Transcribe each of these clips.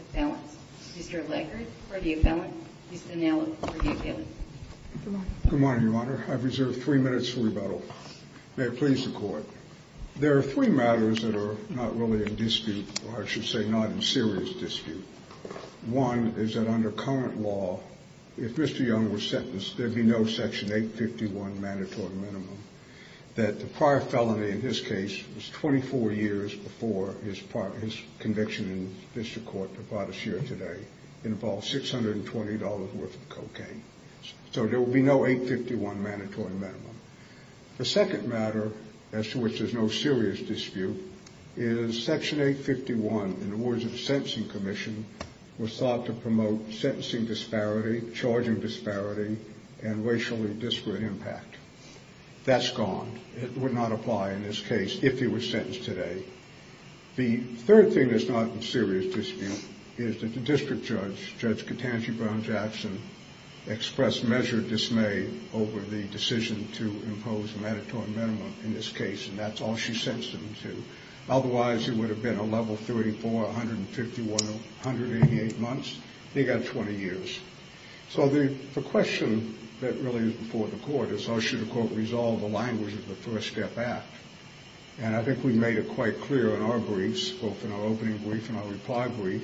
Appellant, Mr. Leckert for the appellant, Mr. Nell for the appellant. Good morning, Your Honor. I've reserved three minutes for rebuttal. May it please the Court. There are three matters that are not really in dispute, or I should say not in serious dispute. One is that under current law, if Mr. Young was sentenced, there'd be no Section 851 mandatory minimum, that the prior felony in his case was 24 years before his conviction in district court that brought us here today involved $620 worth of cocaine. So there will be no 851 mandatory minimum. The second matter, as to which is no serious dispute, is Section 851, in the words of the Sentencing Commission, was thought to promote sentencing disparity, charging disparity, and racially disparate impact. That's gone. It would not apply in this case if he was sentenced today. The third thing that's not in serious dispute is that the district judge, Judge Katanji Brown-Jackson, expressed measured dismay over the decision to impose a mandatory minimum in this case, and that's all she sentenced him to. Otherwise, it would have been a level 34, 151, 188 months. He got 20 years. So the question that really is before the Court is, how should the Court resolve the language of the First Step Act? And I think we made it quite clear in our briefs, both in our opening brief and our reply brief,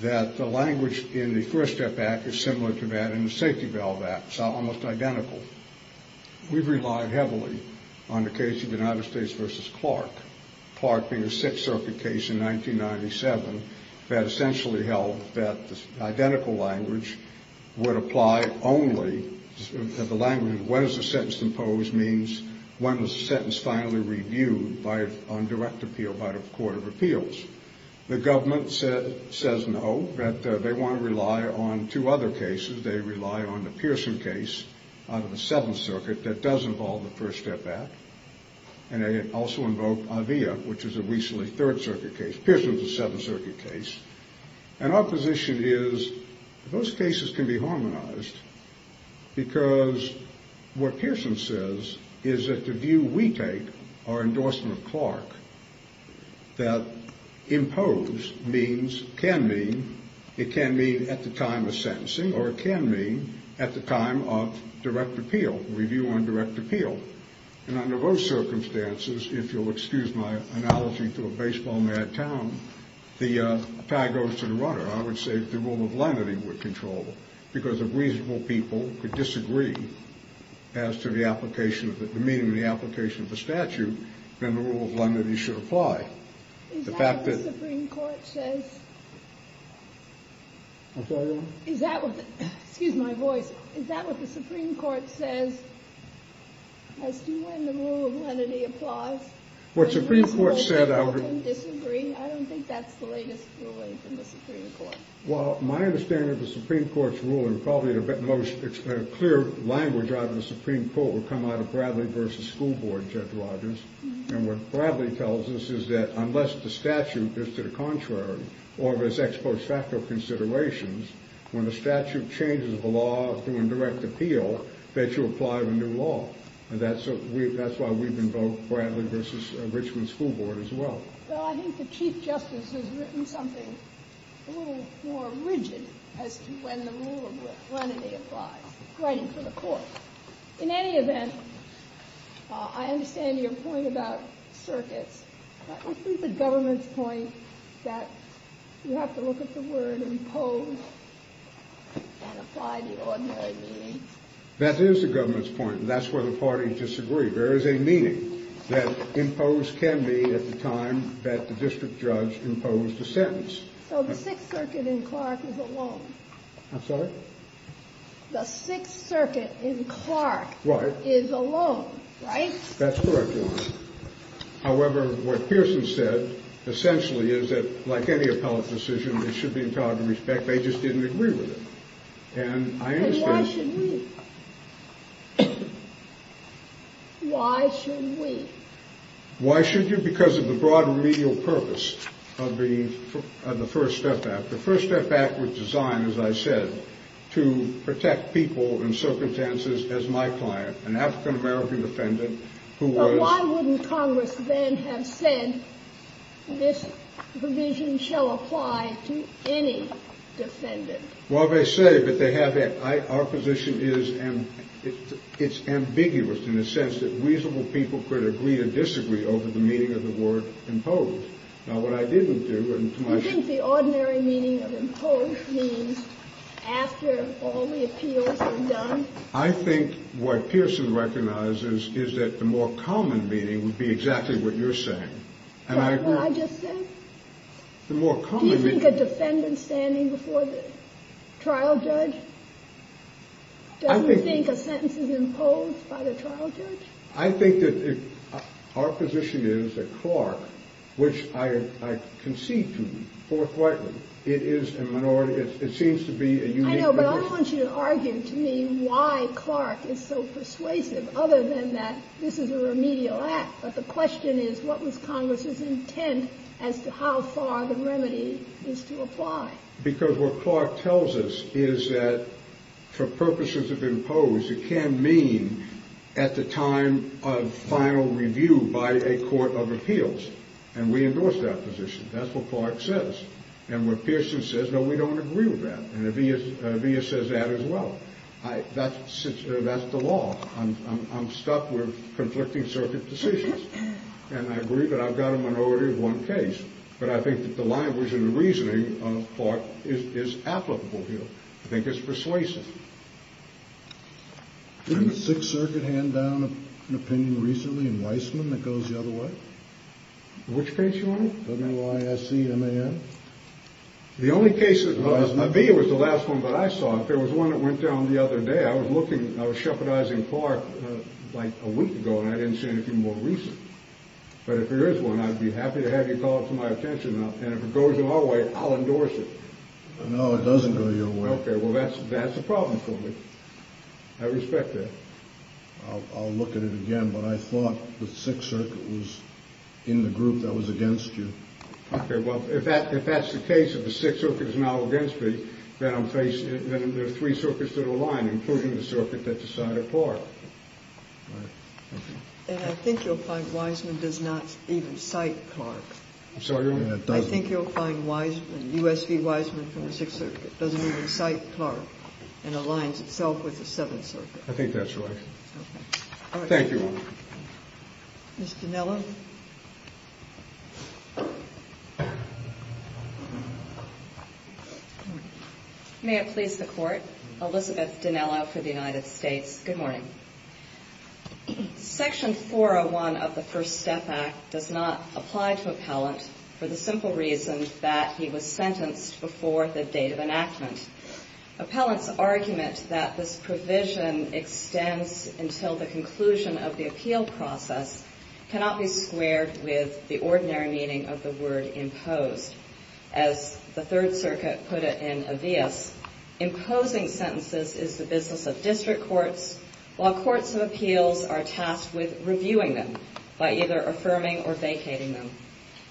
that the language in the First Step Act is similar to that in the Safety Belt Act. It's almost identical. We've relied heavily on the case of United States v. Clark, Clark being a Sixth Circuit case in 1997 that essentially held that the identical language would apply only, that the language of when is the sentence imposed means when was the sentence finally reviewed on direct appeal by the Court of Appeals. The government says no, that they want to rely on two other cases. They rely on the Pearson case out of the Seventh Circuit that does involve the First Step Act, and they also invoke Avea, which is a recently Third Circuit case. Pearson's a Seventh Circuit case. And our position is those cases can be harmonized because what Pearson says is that the view we take, our endorsement of Clark, that impose means, can mean, it can mean at the time of sentencing, or it can mean at the time of direct appeal, review on direct appeal. And under those circumstances, if you'll excuse my analogy to a baseball-mad town, the pie goes to the runner. I would say the rule of lenity would control, because if reasonable people could disagree as to the application, the meaning of the application of the statute, then the rule of lenity should apply. The fact that- Is that what the Supreme Court says? I'm sorry? Is that what the, excuse my voice, is that what the Supreme Court says as to when the rule of lenity applies? What the Supreme Court said- Reasonable people can disagree? I don't think that's the latest ruling from the Supreme Court. Well, my understanding of the Supreme Court's ruling, probably the most clear language out of the Supreme Court, would come out of Bradley v. School Board, Judge Rogers. And what Bradley tells us is that unless the statute is to the contrary, or there's ex post facto considerations, when the statute changes the law through indirect appeal, that you apply the new law. And that's why we've invoked Bradley v. Richmond School Board as well. Well, I think the Chief Justice has written something a little more rigid as to when the rule of lenity applies, writing to the court. In any event, I understand your point about circuits. I think the government's point that you have to look at the word impose and apply the ordinary means. That is the government's point, and that's where the parties disagree. There is a meaning that impose can be at the time that the district judge imposed the sentence. So the Sixth Circuit in Clark is alone. I'm sorry? The Sixth Circuit in Clark is alone, right? That's correct, Your Honor. However, what Pearson said essentially is that, like any appellate decision, it should be entitled to respect. They just didn't agree with it. Then why should we? Why should we? Why should you? Because of the broad remedial purpose of the First Step Act. The First Step Act was designed, as I said, to protect people and circumstances, as my client, an African-American defendant who was— But why wouldn't Congress then have said this provision shall apply to any defendant? Well, they say, but they haven't. Our position is it's ambiguous in the sense that reasonable people could agree or disagree over the meaning of the word impose. Now, what I didn't do— You think the ordinary meaning of impose means after all the appeals are done? I think what Pearson recognizes is that the more common meaning would be exactly what you're saying. What I just said? The more common meaning— Do you think a defendant standing before the trial judge doesn't think a sentence is imposed by the trial judge? I think that our position is that Clark, which I concede to forthrightly, it is a minority—it seems to be a unique— I know, but I don't want you to argue to me why Clark is so persuasive other than that this is a remedial act. But the question is what was Congress's intent as to how far the remedy is to apply? Because what Clark tells us is that for purposes of impose, it can mean at the time of final review by a court of appeals. And we endorse that position. That's what Clark says. And what Pearson says, no, we don't agree with that. And Avia says that as well. That's the law. I'm stuck with conflicting circuit decisions, and I agree that I've got a minority in one case. But I think that the language and the reasoning of Clark is applicable here. I think it's persuasive. Didn't the Sixth Circuit hand down an opinion recently in Weissman that goes the other way? Which case, Your Honor? W-I-S-C-M-A-N. The only case— Weissman. Avia was the last one that I saw. There was one that went down the other day. I was looking—I was shepherdizing Clark like a week ago, and I didn't see anything more recent. But if there is one, I'd be happy to have you call it to my attention. And if it goes your way, I'll endorse it. No, it doesn't go your way. Okay, well, that's a problem for me. I respect that. I'll look at it again, but I thought the Sixth Circuit was in the group that was against you. Okay, well, if that's the case, if the Sixth Circuit is now against me, then I'm facing—then there are three circuits that align, including the circuit that decided Clark. And I think you'll find Weissman does not even cite Clark. I'm sorry, Your Honor? I think you'll find Weissman, U.S. v. Weissman from the Sixth Circuit, doesn't even cite Clark and aligns itself with the Seventh Circuit. Thank you, Your Honor. Ms. Dinello? May it please the Court? Elizabeth Dinello for the United States. Good morning. Section 401 of the First Step Act does not apply to appellant for the simple reason that he was sentenced before the date of enactment. Appellants' argument that this provision extends until the conclusion of the appeal process cannot be squared with the ordinary meaning of the word imposed. As the Third Circuit put it in Avias, imposing sentences is the business of district courts, while courts of appeals are tasked with reviewing them by either affirming or vacating them.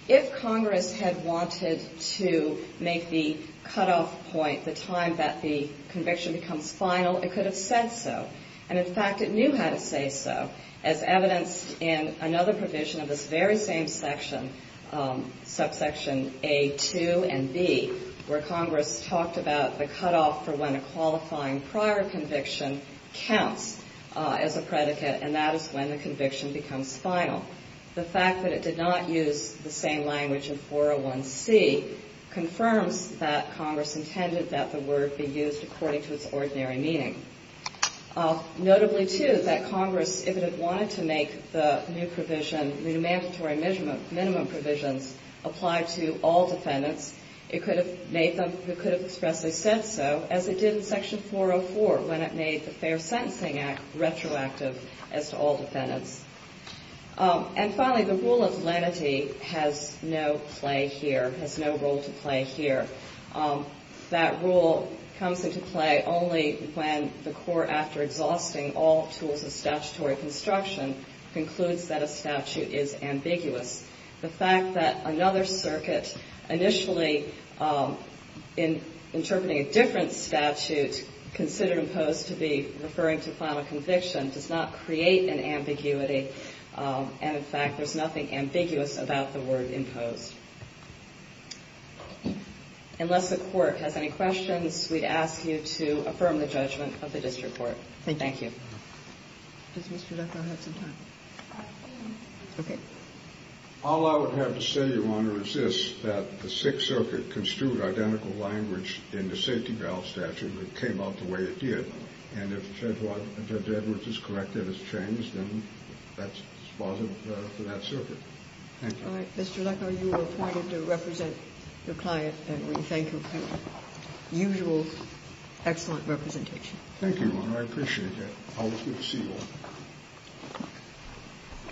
If Congress had wanted to make the cutoff point the time that the conviction becomes final, it could have said so. And, in fact, it knew how to say so, as evidenced in another provision of this very same section, subsection A2 and B, where Congress talked about the cutoff for when a qualifying prior conviction counts as a predicate, and that is when the conviction becomes final. The fact that it did not use the same language in 401C confirms that Congress intended that the word be used according to its ordinary meaning. Notably, too, that Congress, if it had wanted to make the new provision, the new mandatory minimum provisions, apply to all defendants, it could have expressly said so, as it did in Section 404 when it made the Fair Sentencing Act retroactive as to all defendants. And, finally, the rule of lenity has no play here, has no role to play here. That rule comes into play only when the court, after exhausting all tools of statutory construction, concludes that a statute is ambiguous. The fact that another circuit initially, in interpreting a different statute, considered imposed to be referring to final conviction, does not create an ambiguity, and, in fact, there's nothing ambiguous about the word imposed. Unless the Court has any questions, we'd ask you to affirm the judgment of the district court. Thank you. Thank you, Your Honor. Does Mr. Leckar have some time? I do. Okay. All I would have to say, Your Honor, is this, that the Sixth Circuit construed identical language in the safety valve statute that came out the way it did. And if Judge Edwards is correct that it's changed, then that's positive for that circuit. Thank you. All right. Mr. Leckar, you were appointed to represent your client, and we thank you for your usual excellent representation. Thank you, Your Honor. I appreciate that. Always good to see you all.